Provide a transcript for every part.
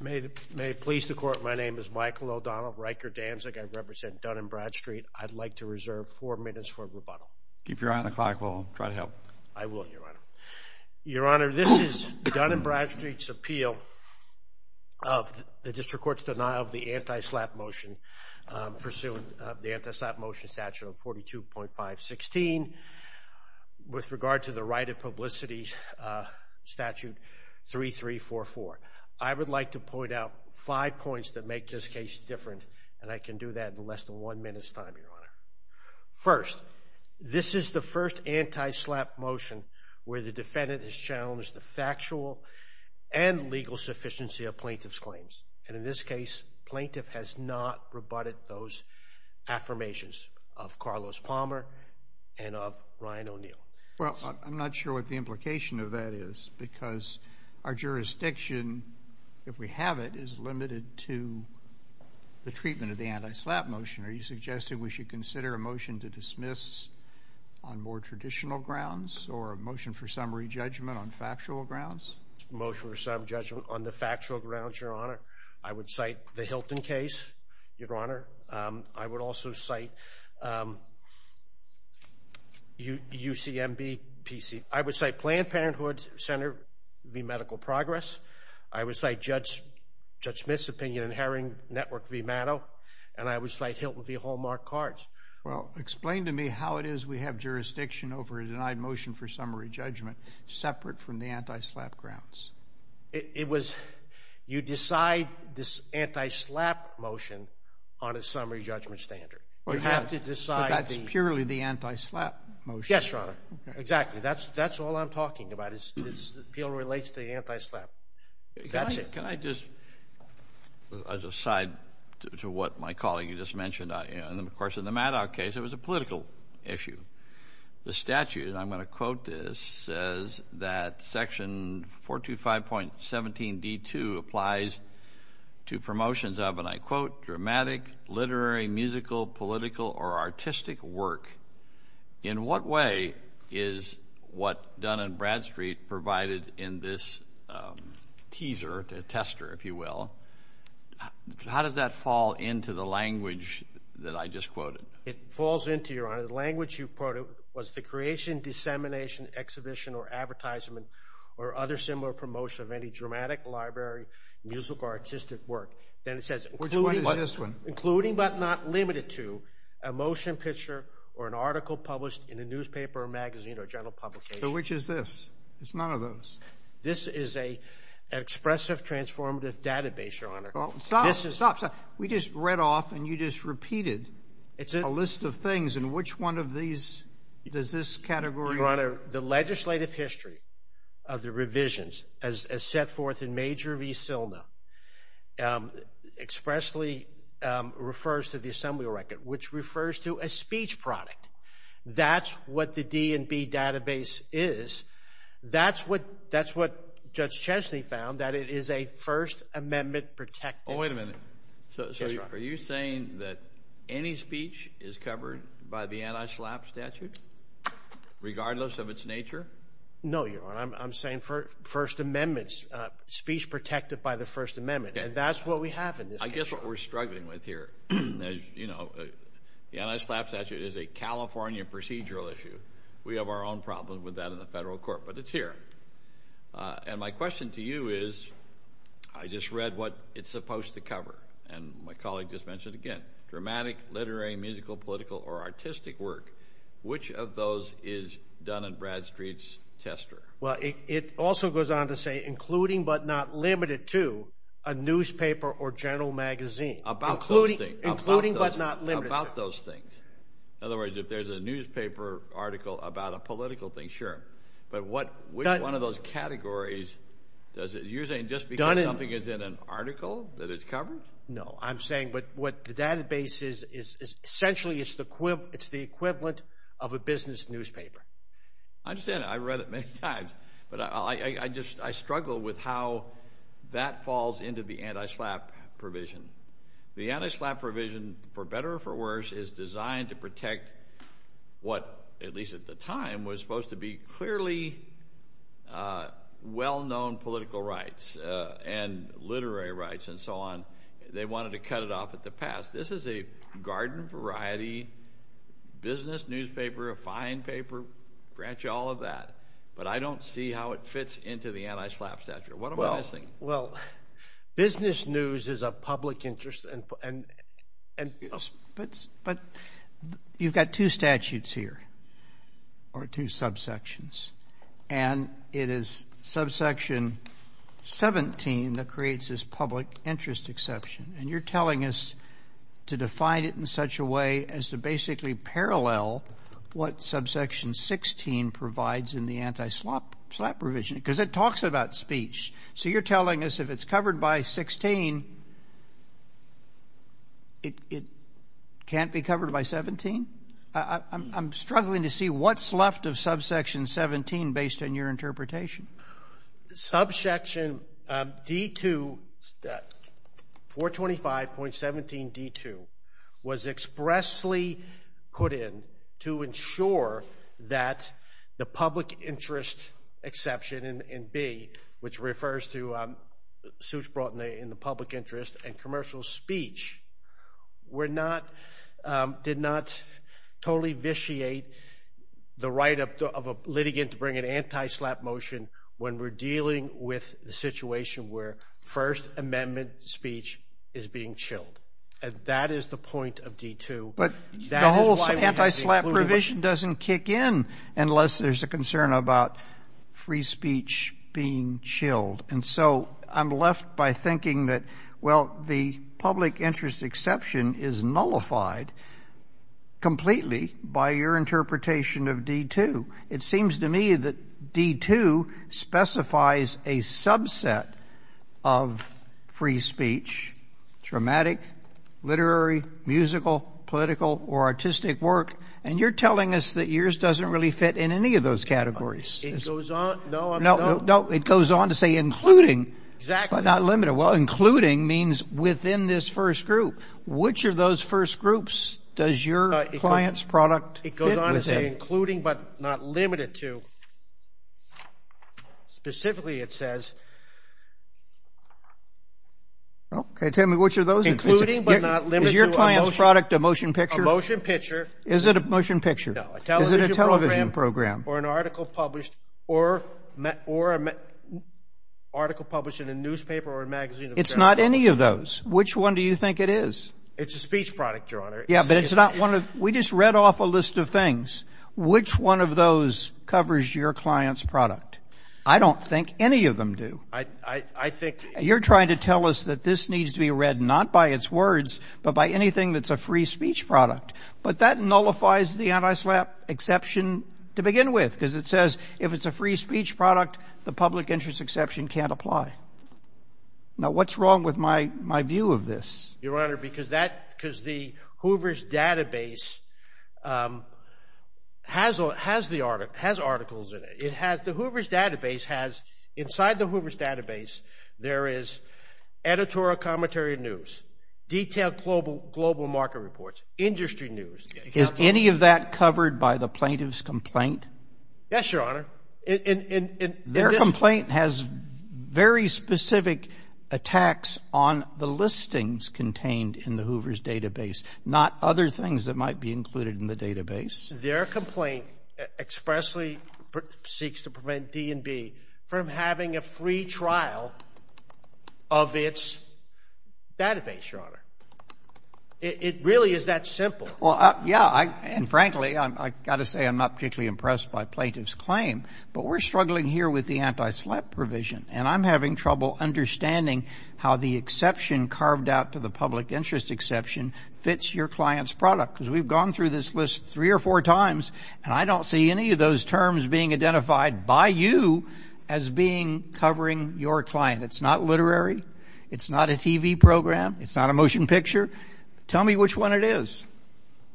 May it please the Court, my name is Michael O'Donnell, Riker Danzig. I represent Dun & Bradstreet. I'd like to reserve four minutes for rebuttal. Keep your eye on the clock, we'll try to help. I will, Your Honor. Your Honor, this is Dun & Bradstreet's appeal of the District Court's denial of the anti-SLAPP motion, pursuant of the anti-SLAPP motion statute of 42.516, with regard to the right of publicity statute 3344. I would like to point out five points that make this case different, and I can do that in less than one minute's time, Your Honor. First, this is the first anti-SLAPP motion where the defendant has challenged the factual and legal sufficiency of plaintiff's claims. And in this case, plaintiff has not rebutted those affirmations of Carlos Palmer and of Ryan O'Neill. Well, I'm not sure what the implication of that is, because our jurisdiction, if we have it, is limited to the treatment of the anti-SLAPP motion. Are you suggesting we should consider a motion to dismiss on more traditional grounds, or a motion for summary judgment on factual grounds? Motion for summary judgment on the UCMB PC. I would cite Planned Parenthood, Senator, v. Medical Progress. I would cite Judge Smith's opinion in Herring, Network v. Mano. And I would cite Hilton v. Hallmark Cards. Well, explain to me how it is we have jurisdiction over a denied motion for summary judgment separate from the anti-SLAPP grounds. It was, you decide this anti-SLAPP motion on a summary judgment standard. You have to decide the... But that's purely the anti-SLAPP motion. Yes, Your Honor. Exactly. That's all I'm talking about is the appeal relates to the anti-SLAPP. That's it. Can I just, as an aside to what my colleague just mentioned, and of course in the Maddow case, it was a political issue. The statute, and I'm going to quote this, says that section 425.17 applies to promotions of, and I quote, dramatic, literary, musical, political, or artistic work. In what way is what Dun & Bradstreet provided in this teaser, tester, if you will, how does that fall into the language that I just quoted? It falls into, Your Honor, the language you quoted was the creation, dissemination, exhibition, or advertisement, or other similar promotion of any dramatic, library, musical, or artistic work. Then it says... Which one is this one? Including, but not limited to, a motion picture or an article published in a newspaper or magazine or general publication. So which is this? It's none of those. This is an expressive, transformative database, Your Honor. Stop. We just read off and you just repeated a list of things and which one of these does this category... Your Honor, the legislative history of the set forth in Major v. Silna expressly refers to the assembly record, which refers to a speech product. That's what the D&B database is. That's what Judge Chesney found, that it is a First Amendment protected... Oh, wait a minute. So are you saying that any speech is covered by the anti-SLAPP statute, regardless of its nature? No, Your Honor. I'm saying First Amendments, speech protected by the First Amendment, and that's what we have in this case. I guess what we're struggling with here, you know, the anti-SLAPP statute is a California procedural issue. We have our own problems with that in the federal court, but it's here. And my question to you is, I just read what it's supposed to cover, and my colleague just mentioned again, dramatic, literary, musical, political, or artistic work. Which of those is Dun & Bradstreet's tester? Well, it also goes on to say, including but not limited to a newspaper or general magazine. About those things. In other words, if there's a newspaper article about a political thing, sure. But which one of those categories does it use? Just because something is in an article that it's covered? No, I'm saying, what the database is, essentially it's the equivalent of a business newspaper. I understand, I've read it many times. But I just, I struggle with how that falls into the anti-SLAPP provision. The anti-SLAPP provision, for better or for worse, is designed to protect what, at least at the time, was supposed to be clearly well-known political rights, and literary rights, and so on. They wanted to cut it off at the past. This is a garden variety, business newspaper, a fine paper, branch, all of that. But I don't see how it fits into the anti-SLAPP statute. What am I missing? Well, business news is a public interest. But you've got two statutes here, or two subsections, and it is subsection 17 that creates this public interest exception. And you're telling us to define it in such a way as to basically parallel what subsection 16 provides in the anti-SLAPP provision, because it talks about speech. So you're telling us if it's covered by 16, it can't be covered by 17? I'm struggling to see what's left of subsection 17 based on your interpretation. Subsection D2, 425.17 D2, was expressly put in to ensure that the public interest exception in B, which refers to suits brought in the public interest and commercial speech, did not totally vitiate the right of a litigant to bring an anti-SLAPP motion when we're dealing with the situation where First Amendment speech is being chilled. And that is the point of D2. But the whole anti-SLAPP provision doesn't kick in unless there's a concern about free speech being chilled. And so I'm left by thinking that, well, the public interest exception is nullified completely by your interpretation of D2. It seems to me that D2 specifies a subset of free speech, dramatic, literary, musical, political, or artistic work. And you're telling us that it doesn't really fit in any of those categories. It goes on to say including, but not limited. Well, including means within this first group. Which of those first groups does your client's product fit within? It goes on to say including, but not limited to. Specifically, it says, including, but not limited to a motion picture. Is your client's product a motion picture? A motion picture. Is it a motion picture? No. Is it a television program? Or an article published in a newspaper or a magazine? It's not any of those. Which one do you think it is? It's a speech product, Your Honor. Yeah, but it's not one of — we just read off a list of things. Which one of those covers your client's product? I don't think any of them do. I think — You're trying to tell us that this needs to be read not by its words, but by anything that's a free speech product. But that nullifies the antislap exception to begin with, because it says if it's a free speech product, the public interest exception can't apply. Now, what's wrong with my view of this? Your Honor, because that — because the Hoover's database has articles in it. It has — the Hoover's database has — inside the Hoover's database, there is editorial commentary news, detailed global market reports, industry news. Is any of that covered by the plaintiff's complaint? Yes, Your Honor. And — Their complaint has very specific attacks on the listings contained in the Hoover's database, not other things that might be included in the database. Their complaint expressly seeks to prevent D&B from having a free trial of its database, Your Honor. It really is that simple. Well, yeah. And frankly, I've got to say I'm not particularly impressed by plaintiff's claim. But we're struggling here with the antislap provision. And I'm having trouble understanding how the exception carved out to the public interest exception fits your client's product. Because we've gone through this list three or four times, and I don't see any of those terms being identified by you as being — covering your client. It's not literary. It's not a TV program. It's not a motion picture. Tell me which one it is.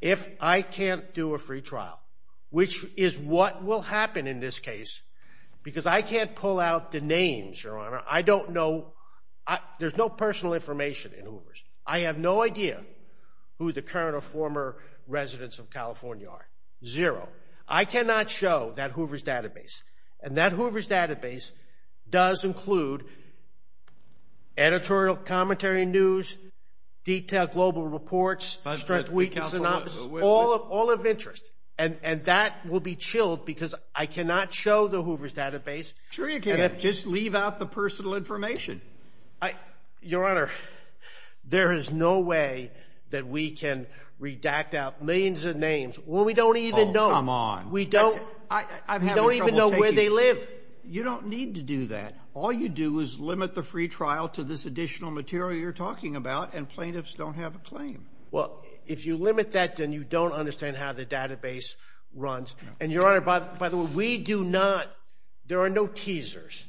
If I can't do a free trial, which is what will happen in this case, because I can't pull out the names, Your Honor, I don't know — there's no personal information in Hoover's. I have no idea who the current or former residents of California are. Zero. I cannot show that Hoover's database. And that Hoover's database does include editorial commentary news, detailed global reports, strength, weakness, all of interest. And that will be chilled because I cannot show the Hoover's database. Sure you can. Just leave out the personal information. I — Your Honor, there is no way that we can redact out millions of names when we don't even know — Oh, come on. We don't — I'm having trouble taking — We don't even know where they live. You don't need to do that. All you do is limit the free trial to this additional material you're talking about, and plaintiffs don't have a claim. Well, if you limit that, then you don't understand how the database runs. And, Your Honor, by the way, we do not — there are no teasers,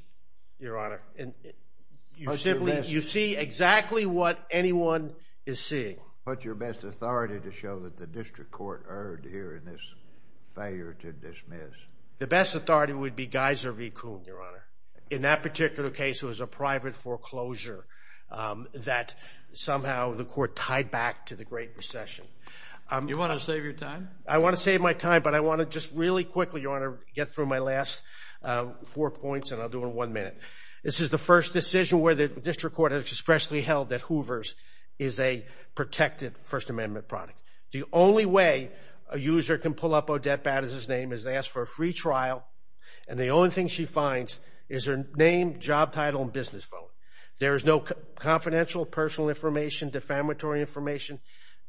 Your Honor. You see exactly what anyone is seeing. What's your best authority to show that the district court erred here in this failure to dismiss? The best authority would be Geiser v. Kuhn, Your Honor. In that particular case, it was a private foreclosure that somehow the court tied back to the Great Recession. You want to save your time? I want to save my time, but I want to just really quickly, Your Honor, get through my last four points, and I'll do it in one minute. This is the first decision where the district court has expressly held that Hoover's is a protected First Amendment product. The only way a user can pull up Odette Baddis' name is to ask for a free trial, and the only thing she finds is her name, job title, and business phone. There is no confidential personal information, defamatory information.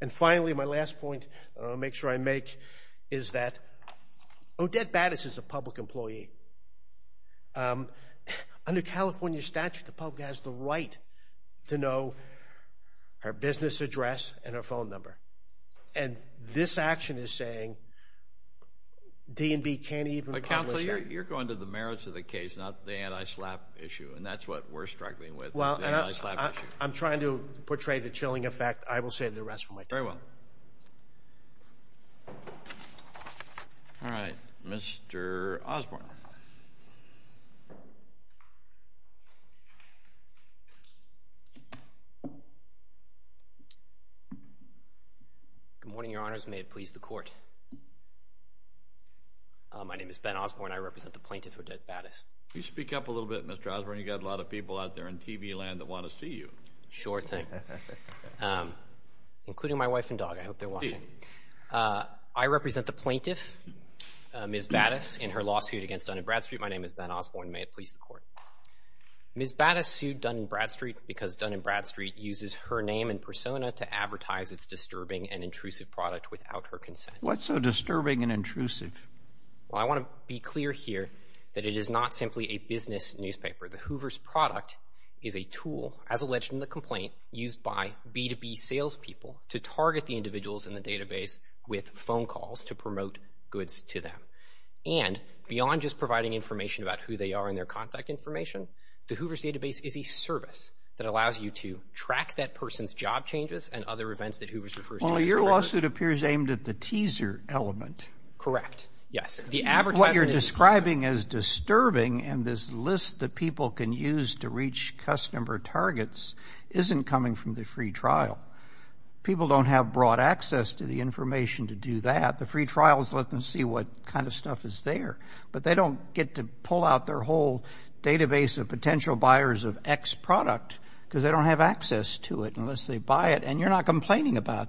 And finally, my last point that I want to make sure I make is that Odette Baddis is a public employee. Under California statute, the public has the right to know her business address and her phone number. And this action is saying D&B can't even publish that. But, counsel, you're going to the merits of the case, not the anti-SLAPP issue, and that's what we're struggling with, the anti-SLAPP issue. I'm trying to portray the chilling effect. I will save the rest for my time. Very well. All right. Mr. Osborne. Good morning, Your Honors. May it please the Court. My name is Ben Osborne. I represent the plaintiff, Odette Baddis. Can you speak up a little bit, Mr. Osborne? You've got a lot of people out there in TV land that want to see you. Sure thing. Including my wife and dog. I hope they're watching. I represent the plaintiff, Ms. Baddis, in her lawsuit against Dun & Bradstreet. My name is Ben Osborne. May it please the Court. Ms. Baddis sued Dun & Bradstreet because Dun & Bradstreet uses her name and persona to advertise its disturbing and intrusive product without her consent. What's so disturbing and intrusive? Well, I want to be clear here that it is not simply a business newspaper. The Hoover's product is a tool, as alleged in the complaint, used by B2B salespeople to target the individuals in the database with phone calls to promote goods to them. And beyond just providing information about who they are and their contact information, the Hoover's database is a service that allows you to track that person's job changes and other events that Hoover's refers to as disturbing. Well, your lawsuit appears aimed at the teaser element. Correct. Yes. What you're describing as disturbing in this list that people can use to reach customer targets isn't coming from the free trial. People don't have broad access to the information to do that. The free trials let them see what kind of stuff is there. But they don't get to pull out their whole database of potential buyers of X product because they don't have access to it unless they buy it. And you're not complaining about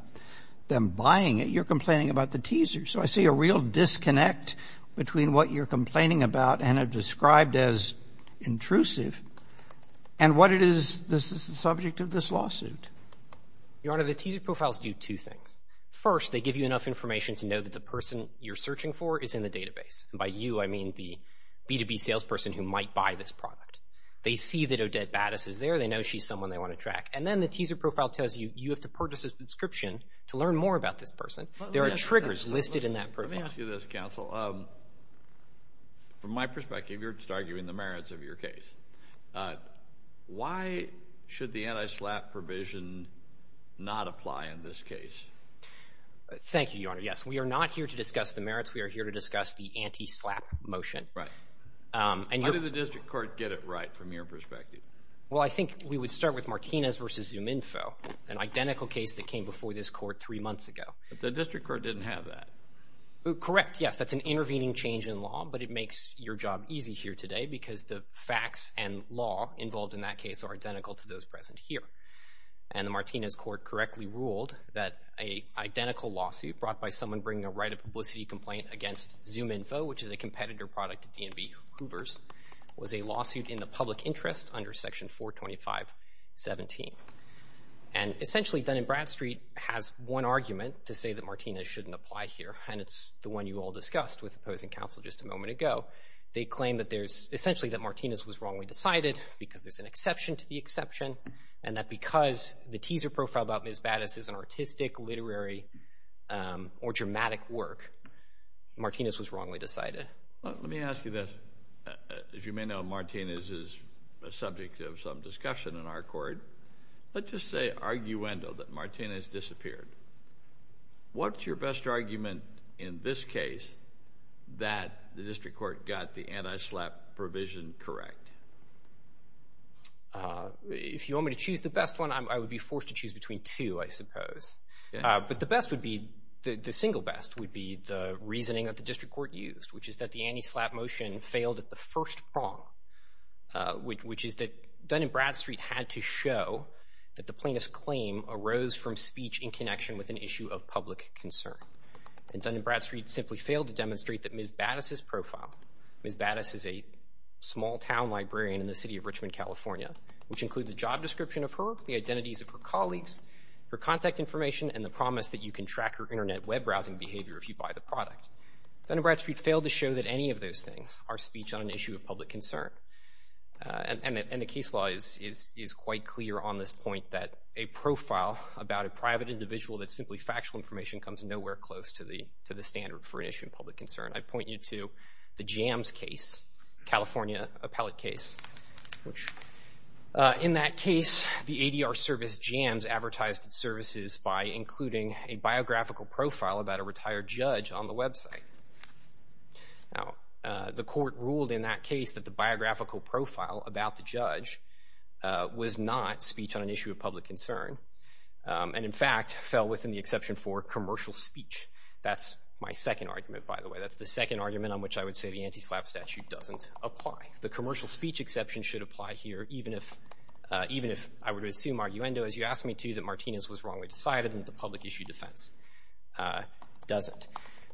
them buying it. You're complaining about the teaser. So I see a real disconnect between what you're complaining about and have described as intrusive and what it is this is the subject of this lawsuit. Your Honor, the teaser profiles do two things. First, they give you enough information to know that the person you're searching for is in the database. And by you, I mean the B2B salesperson who might buy this product. They see that Odette Battis is there. They know she's someone they want to track. And then the teaser profile tells you you have to purchase a subscription to learn more about this person. There are triggers listed in that profile. Let me ask you this, counsel. From my perspective, you're just arguing the merits of your case. Why should the anti-SLAPP provision not apply in this case? Thank you, Your Honor. Yes, we are not here to discuss the merits. We are here to discuss the anti-SLAPP motion. Right. How did the district court get it right from your perspective? Well, I think we would start with Martinez v. ZoomInfo, an identical case that came before this court three months ago. But the district court didn't have that. Correct, yes. That's an intervening change in law, but it makes your job easy here today because the facts and law involved in that case are identical to those present here. And the Martinez court correctly ruled that an identical lawsuit brought by someone bringing a right of publicity complaint against ZoomInfo, which is a competitor product to D&B Hoovers, was a lawsuit in the public interest under Section 425.17. And essentially, Dun & Bradstreet has one argument to say that Martinez shouldn't apply here, and it's the one you all discussed with opposing counsel just a moment ago. They claim that there's, essentially, that Martinez was wrongly decided because there's an exception to the exception and that because the teaser profile about Ms. Battis is an artistic, literary, or dramatic work, Martinez was wrongly decided. Let me ask you this. As you may know, Martinez is a subject of some discussion in our court. Let's just say, arguendo, that Martinez disappeared. What's your best argument in this case that the district court got the anti-slap provision correct? If you want me to choose the best one, I would be forced to choose between two, I suppose. But the best would be, the single best, would be the reasoning that the district court used, which is that the anti-slap motion failed at the first prong, which is that Dun & Bradstreet had to show that the plaintiff's claim arose from speech in connection with an issue of public concern. And Dun & Bradstreet simply failed to demonstrate that Ms. Battis' profile, Ms. Battis is a small-town librarian in the city of Richmond, California, which includes a job description of her, the identities of her colleagues, her contact information, and the promise that you can track her Internet web browsing behavior if you buy the product. Dun & Bradstreet failed to show that any of those things are speech on an issue of public concern. And the case law is quite clear on this point, that a profile about a private individual that's simply factual information comes nowhere close to the standard for an issue of public concern. I point you to the Jams case, California appellate case. In that case, the ADR service Jams advertised its services by including a biographical profile about a retired judge on the website. Now, the court ruled in that case that the biographical profile about the judge was not speech on an issue of public concern and, in fact, fell within the exception for commercial speech. That's my second argument, by the way. That's the second argument on which I would say the anti-SLAPP statute doesn't apply. The commercial speech exception should apply here, even if I were to assume, arguendo, as you asked me to, that Martinez was wrongly decided and that the public issue defense doesn't.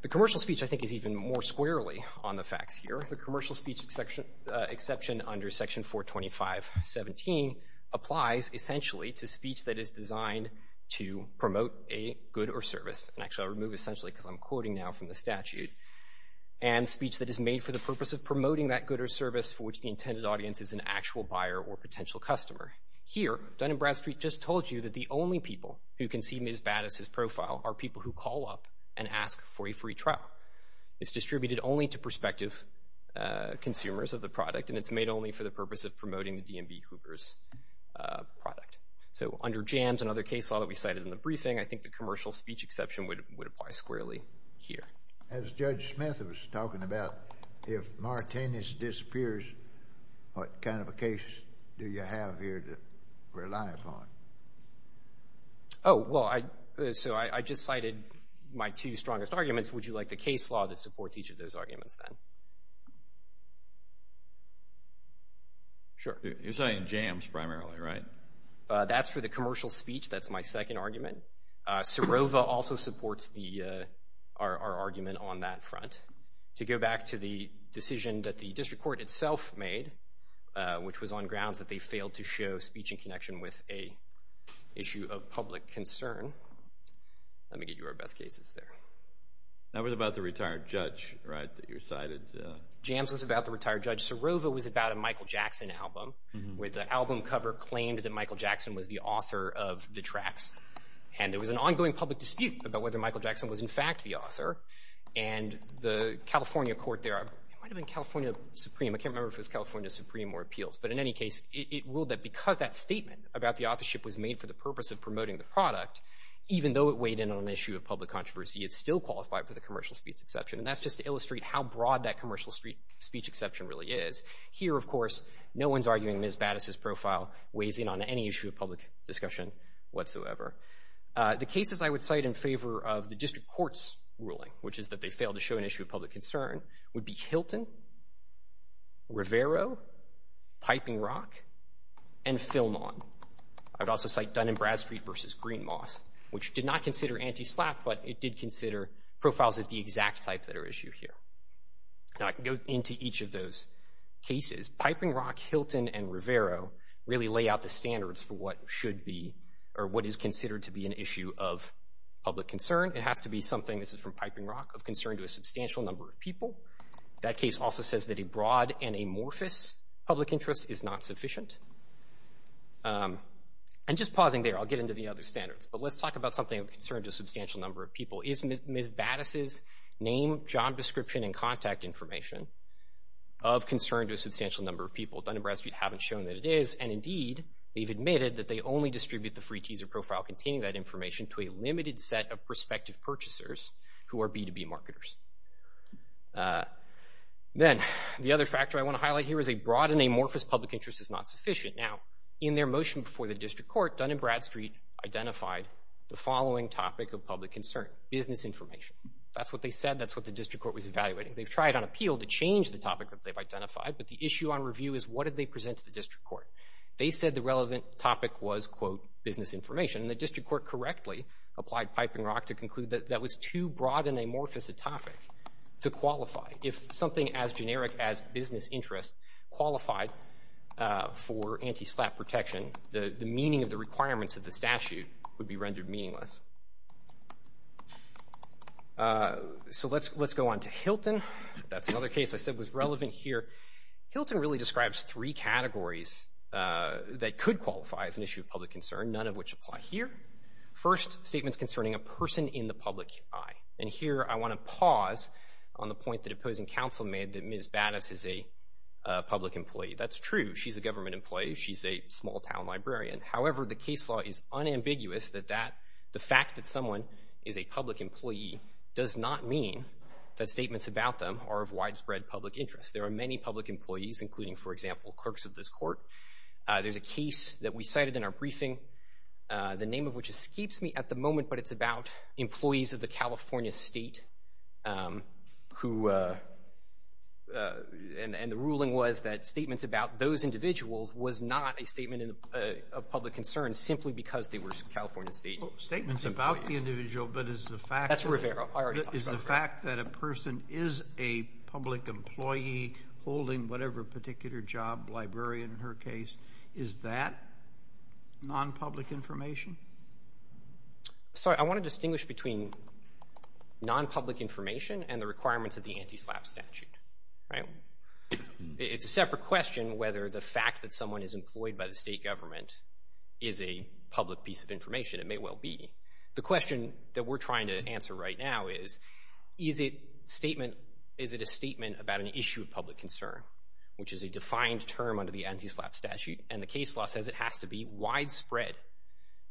The commercial speech, I think, is even more squarely on the facts here. The commercial speech exception under Section 425.17 applies, essentially, to speech that is designed to promote a good or service. And, actually, I'll remove essentially because I'm quoting now from the statute. And speech that is made for the purpose of promoting that good or service for which the intended audience is an actual buyer or potential customer. Here, Dun & Bradstreet just told you that the only people who can see Ms. Battis's profile are people who call up and ask for a free trial. It's distributed only to prospective consumers of the product, and it's made only for the purpose of promoting the D&B Hoopers product. So, under JAMS and other case law that we cited in the briefing, I think the commercial speech exception would apply squarely here. As Judge Smith was talking about, if Martinez disappears, what kind of a case do you have here to rely upon? Oh, well, so I just cited my two strongest arguments. Would you like the case law that supports each of those arguments then? Sure. You're saying JAMS primarily, right? That's for the commercial speech. That's my second argument. Serova also supports our argument on that front. To go back to the decision that the district court itself made, which was on grounds that they failed to show speech in connection with an issue of public concern. Let me get you our best cases there. That was about the retired judge, right, that you cited? JAMS was about the retired judge. Serova was about a Michael Jackson album where the album cover claimed that Michael Jackson was the author of the tracks, and there was an ongoing public dispute about whether Michael Jackson was in fact the author, and the California court there, it might have been California Supreme, I can't remember if it was California Supreme or Appeals, but in any case, it ruled that because that statement about the authorship was made for the purpose of promoting the product, even though it weighed in on an issue of public controversy, it still qualified for the commercial speech exception, and that's just to illustrate how broad that commercial speech exception really is. Here, of course, no one's arguing Ms. Battis' profile weighs in on any issue of public discussion whatsoever. The cases I would cite in favor of the district court's ruling, which is that they failed to show an issue of public concern, would be Hilton, Rivero, Piping Rock, and Philmon. I would also cite Dun & Bradstreet v. Green Moss, which did not consider anti-SLAPP, but it did consider profiles of the exact type that are at issue here. Now, I can go into each of those cases. Piping Rock, Hilton, and Rivero really lay out the standards for what should be, or what is considered to be an issue of public concern. It has to be something, this is from Piping Rock, of concern to a substantial number of people. That case also says that a broad and amorphous public interest is not sufficient. And just pausing there, I'll get into the other standards, but let's talk about something of concern to a substantial number of people. Is Ms. Battis' name, job description, and contact information of concern to a substantial number of people? Dun & Bradstreet haven't shown that it is, and indeed, they've admitted that they only distribute the free teaser profile containing that information to a limited set of prospective purchasers who are B2B marketers. Then, the other factor I want to highlight here is a broad and amorphous public interest is not sufficient. Now, in their motion before the District Court, Dun & Bradstreet identified the following topic of public concern, business information. That's what they said. That's what the District Court was evaluating. They've tried on appeal to change the topic that they've identified, but the issue on review is what did they present to the District Court? They said the relevant topic was, quote, business information, and the District Court correctly applied Piping Rock to conclude that that was too broad and amorphous a topic to qualify. If something as generic as business interest qualified for anti-SLAPP protection, the meaning of the requirements of the statute would be rendered meaningless. So let's go on to Hilton. That's another case I said was relevant here. Hilton really describes three categories that could qualify as an issue of public concern, none of which apply here. First, statements concerning a person in the public eye. And here I want to pause on the point that opposing counsel made that Ms. Battis is a public employee. That's true. She's a government employee. She's a small-town librarian. However, the case law is unambiguous that that, the fact that someone is a public employee does not mean that statements about them are of widespread public interest. There are many public employees, including, for example, clerks of this court. There's a case that we cited in our briefing, the name of which escapes me at the moment, but it's about employees of the California State who... and the ruling was that statements about those individuals was not a statement of public concern simply because they were California State employees. Statements about the individual, but is the fact... That's Rivera. I already talked about Rivera. Is the fact that a person is a public employee holding whatever particular job, librarian in her case, is that non-public information? Sorry, I want to distinguish between non-public information and the requirements of the anti-SLAPP statute, right? It's a separate question whether the fact that someone is employed by the state government is a public piece of information. It may well be. The question that we're trying to answer right now is, is it statement... is it a statement about an issue of public concern, which is a defined term under the anti-SLAPP statute, and the case law says it has to be widespread,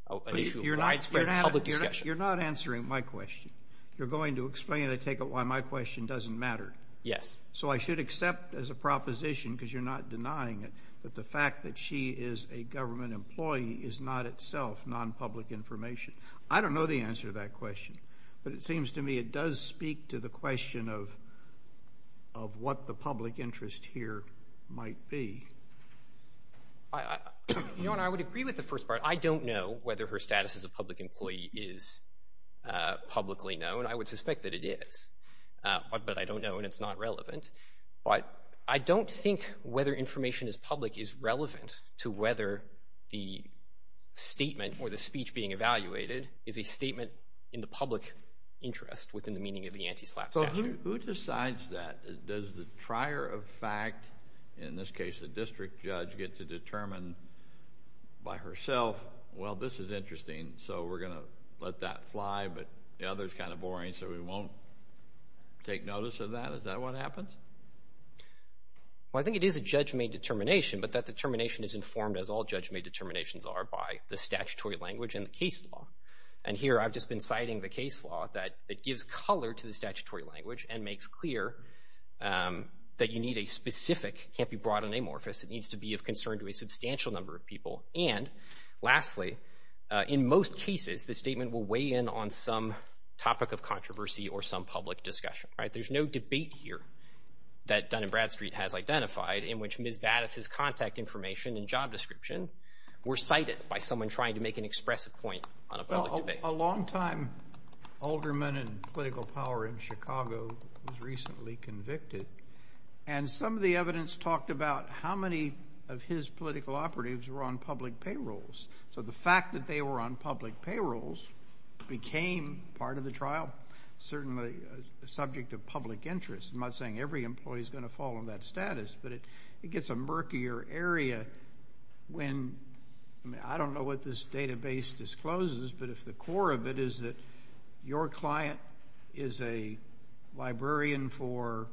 an issue of widespread public discussion. You're not answering my question. You're going to explain, I take it, why my question doesn't matter. Yes. So I should accept as a proposition, because you're not denying it, that the fact that she is a government employee is not itself non-public information. I don't know the answer to that question, but it seems to me it does speak to the question of what the public interest here might be. Your Honor, I would agree with the first part. I don't know whether her status as a public employee is publicly known. I would suspect that it is. But I don't know, and it's not relevant. But I don't think whether information is public is relevant to whether the statement or the speech being evaluated is a statement in the public interest within the meaning of the anti-SLAPP statute. Who decides that? Does the trier of fact, in this case a district judge, get to determine by herself, well, this is interesting, so we're going to let that fly, but the other is kind of boring, so we won't take notice of that? Is that what happens? Well, I think it is a judge-made determination, but that determination is informed, as all judge-made determinations are, by the statutory language and the case law. And here I've just been citing the case law that it gives color to the statutory language and makes clear that you need a specific, it can't be broad and amorphous, it needs to be of concern to a substantial number of people. And, lastly, in most cases, the statement will weigh in on some topic of controversy or some public discussion, right? There's no debate here that Dun & Bradstreet has identified in which Ms. Battis' contact information and job description were cited by someone trying to make an expressive point on a public debate. A long-time alderman in political power in Chicago was recently convicted, and some of the evidence talked about how many of his political operatives were on public payrolls. So the fact that they were on public payrolls became part of the trial, certainly a subject of public interest. I'm not saying every employee is going to fall in that status, but it gets a murkier area when, I mean, I don't know what this database discloses, but if the core of it is that your client is a librarian for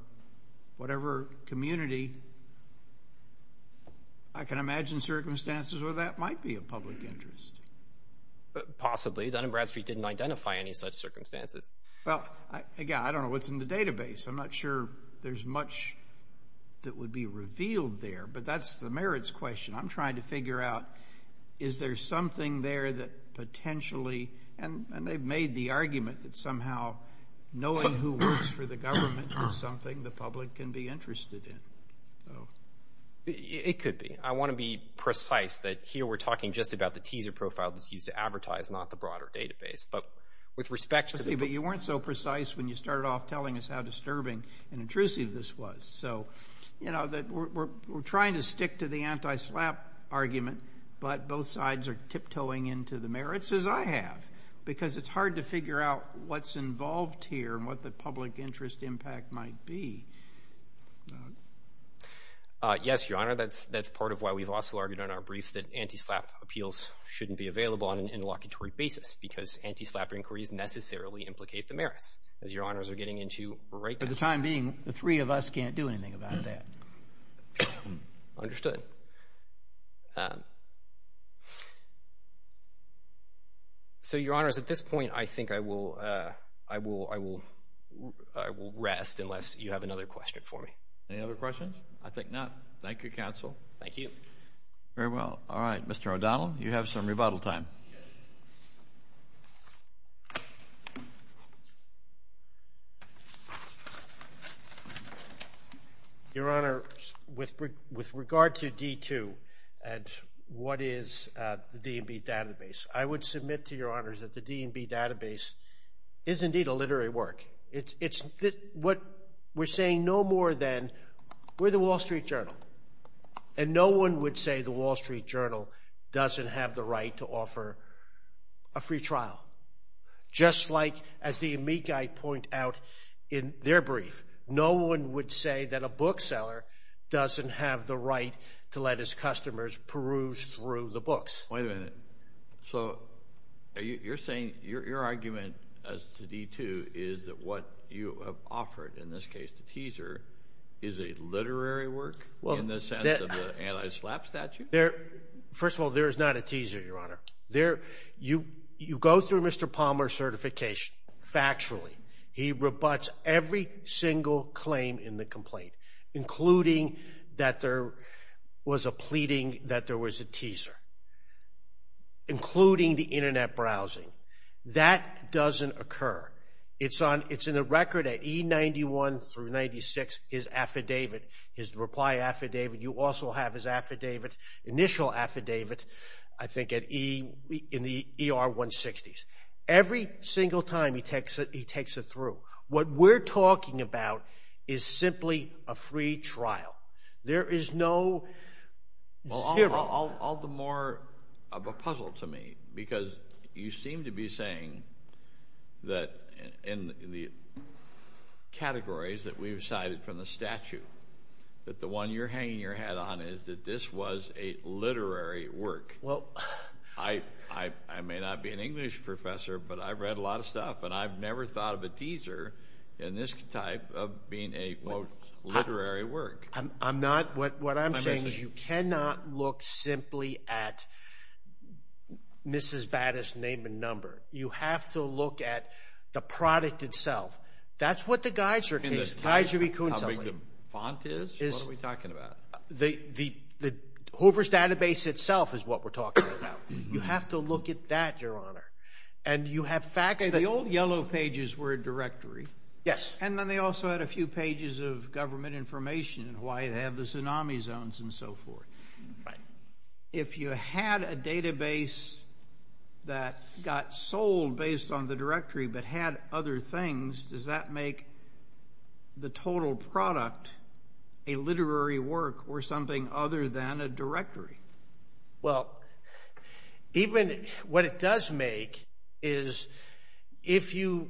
whatever community, I can imagine circumstances where that might be a public interest. Possibly. Dun & Bradstreet didn't identify any such circumstances. Well, again, I don't know what's in the database. I'm not sure there's much that would be revealed there, but that's the merits question. I'm trying to figure out, is there something there that potentially, and they've made the argument that somehow knowing who works for the government is something the public can be interested in. It could be. I want to be precise that here we're talking just about the teaser profile that's used to advertise, not the broader database, but with respect to the... But you weren't so precise when you started off telling us how disturbing and intrusive this was. So, you know, we're trying to stick to the anti-SLAPP argument, but both sides are tiptoeing into the merits, as I have, because it's hard to figure out what's involved here and what the public interest impact might be. Yes, Your Honor, that's part of why we've also argued in our brief that anti-SLAPP appeals shouldn't be available on an interlocutory basis because anti-SLAPP inquiries necessarily implicate the merits, as Your Honors are getting into right now. For the time being, the three of us can't do anything about that. Understood. So, Your Honors, at this point, I think I will rest unless you have another question for me. Any other questions? I think not. Thank you, counsel. Thank you. Very well. All right, Mr. O'Donnell, you have some rebuttal time. Yes. Your Honor, with regard to D2 and what is the D&B database, I would submit to Your Honors that the D&B database is indeed a literary work. It's what we're saying no more than we're the Wall Street Journal, and no one would say the Wall Street Journal doesn't have the right to offer a free trial. Just like, as the amici point out in their brief, no one would say that a bookseller doesn't have the right to let his customers peruse through the books. Wait a minute. So you're saying your argument as to D2 is that what you have offered, in this case the teaser, is a literary work in the sense of the anti-SLAPP statute? First of all, there is not a teaser, Your Honor. You go through Mr. Palmer's certification factually. He rebuts every single claim in the complaint, including that there was a pleading that there was a teaser, including the Internet browsing. That doesn't occur. It's in the record at E91 through 96, his affidavit, his reply affidavit. You also have his affidavit, initial affidavit, I think in the ER 160s. Every single time he takes it through. What we're talking about is simply a free trial. There is no... All the more of a puzzle to me, because you seem to be saying that in the categories that we've cited from the statute, that the one you're hanging your head on is that this was a literary work. Well... I may not be an English professor, but I've read a lot of stuff, and I've never thought of a teaser in this type of being a, quote, literary work. I'm not. What I'm saying is you cannot look simply at Mrs. Battis' name and number. You have to look at the product itself. That's what the Geiser case... How big the font is? What are we talking about? The Hoover's database itself is what we're talking about. You have to look at that, Your Honor. And you have facts that... The old yellow pages were a directory. Yes. And then they also had a few pages of government information and why they have the tsunami zones and so forth. Right. If you had a database that got sold based on the directory but had other things, does that make the total product a literary work or something other than a directory? Well, even... What it does make is if you,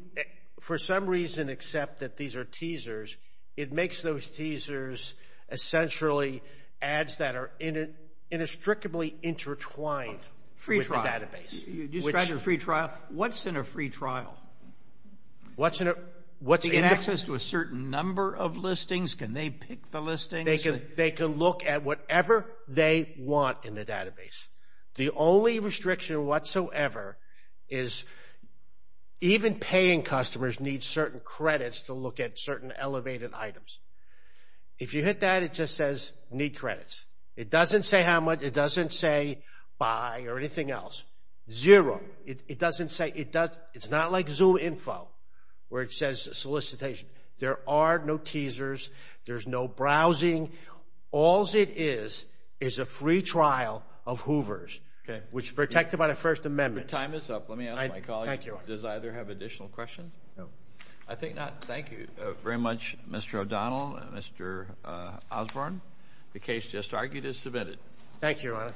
for some reason, accept that these are teasers, it makes those teasers essentially ads that are inextricably intertwined with the database. Free trial. You described your free trial. What's in a free trial? What's in a... Is it access to a certain number of listings? Can they pick the listings? They can look at whatever they want in the database. The only restriction whatsoever is even paying customers need certain credits to look at certain elevated items. If you hit that, it just says need credits. It doesn't say how much. It doesn't say buy or anything else. Zero. It doesn't say... It's not like Zoom info where it says solicitation. There are no teasers. There's no browsing. All it is is a free trial of Hoover's, which is protected by the First Amendment. Your time is up. Let me ask my colleague, does either have additional questions? No. I think not. Thank you very much, Mr. O'Donnell and Mr. Osborne. The case just argued is submitted. Thank you, Your Honor.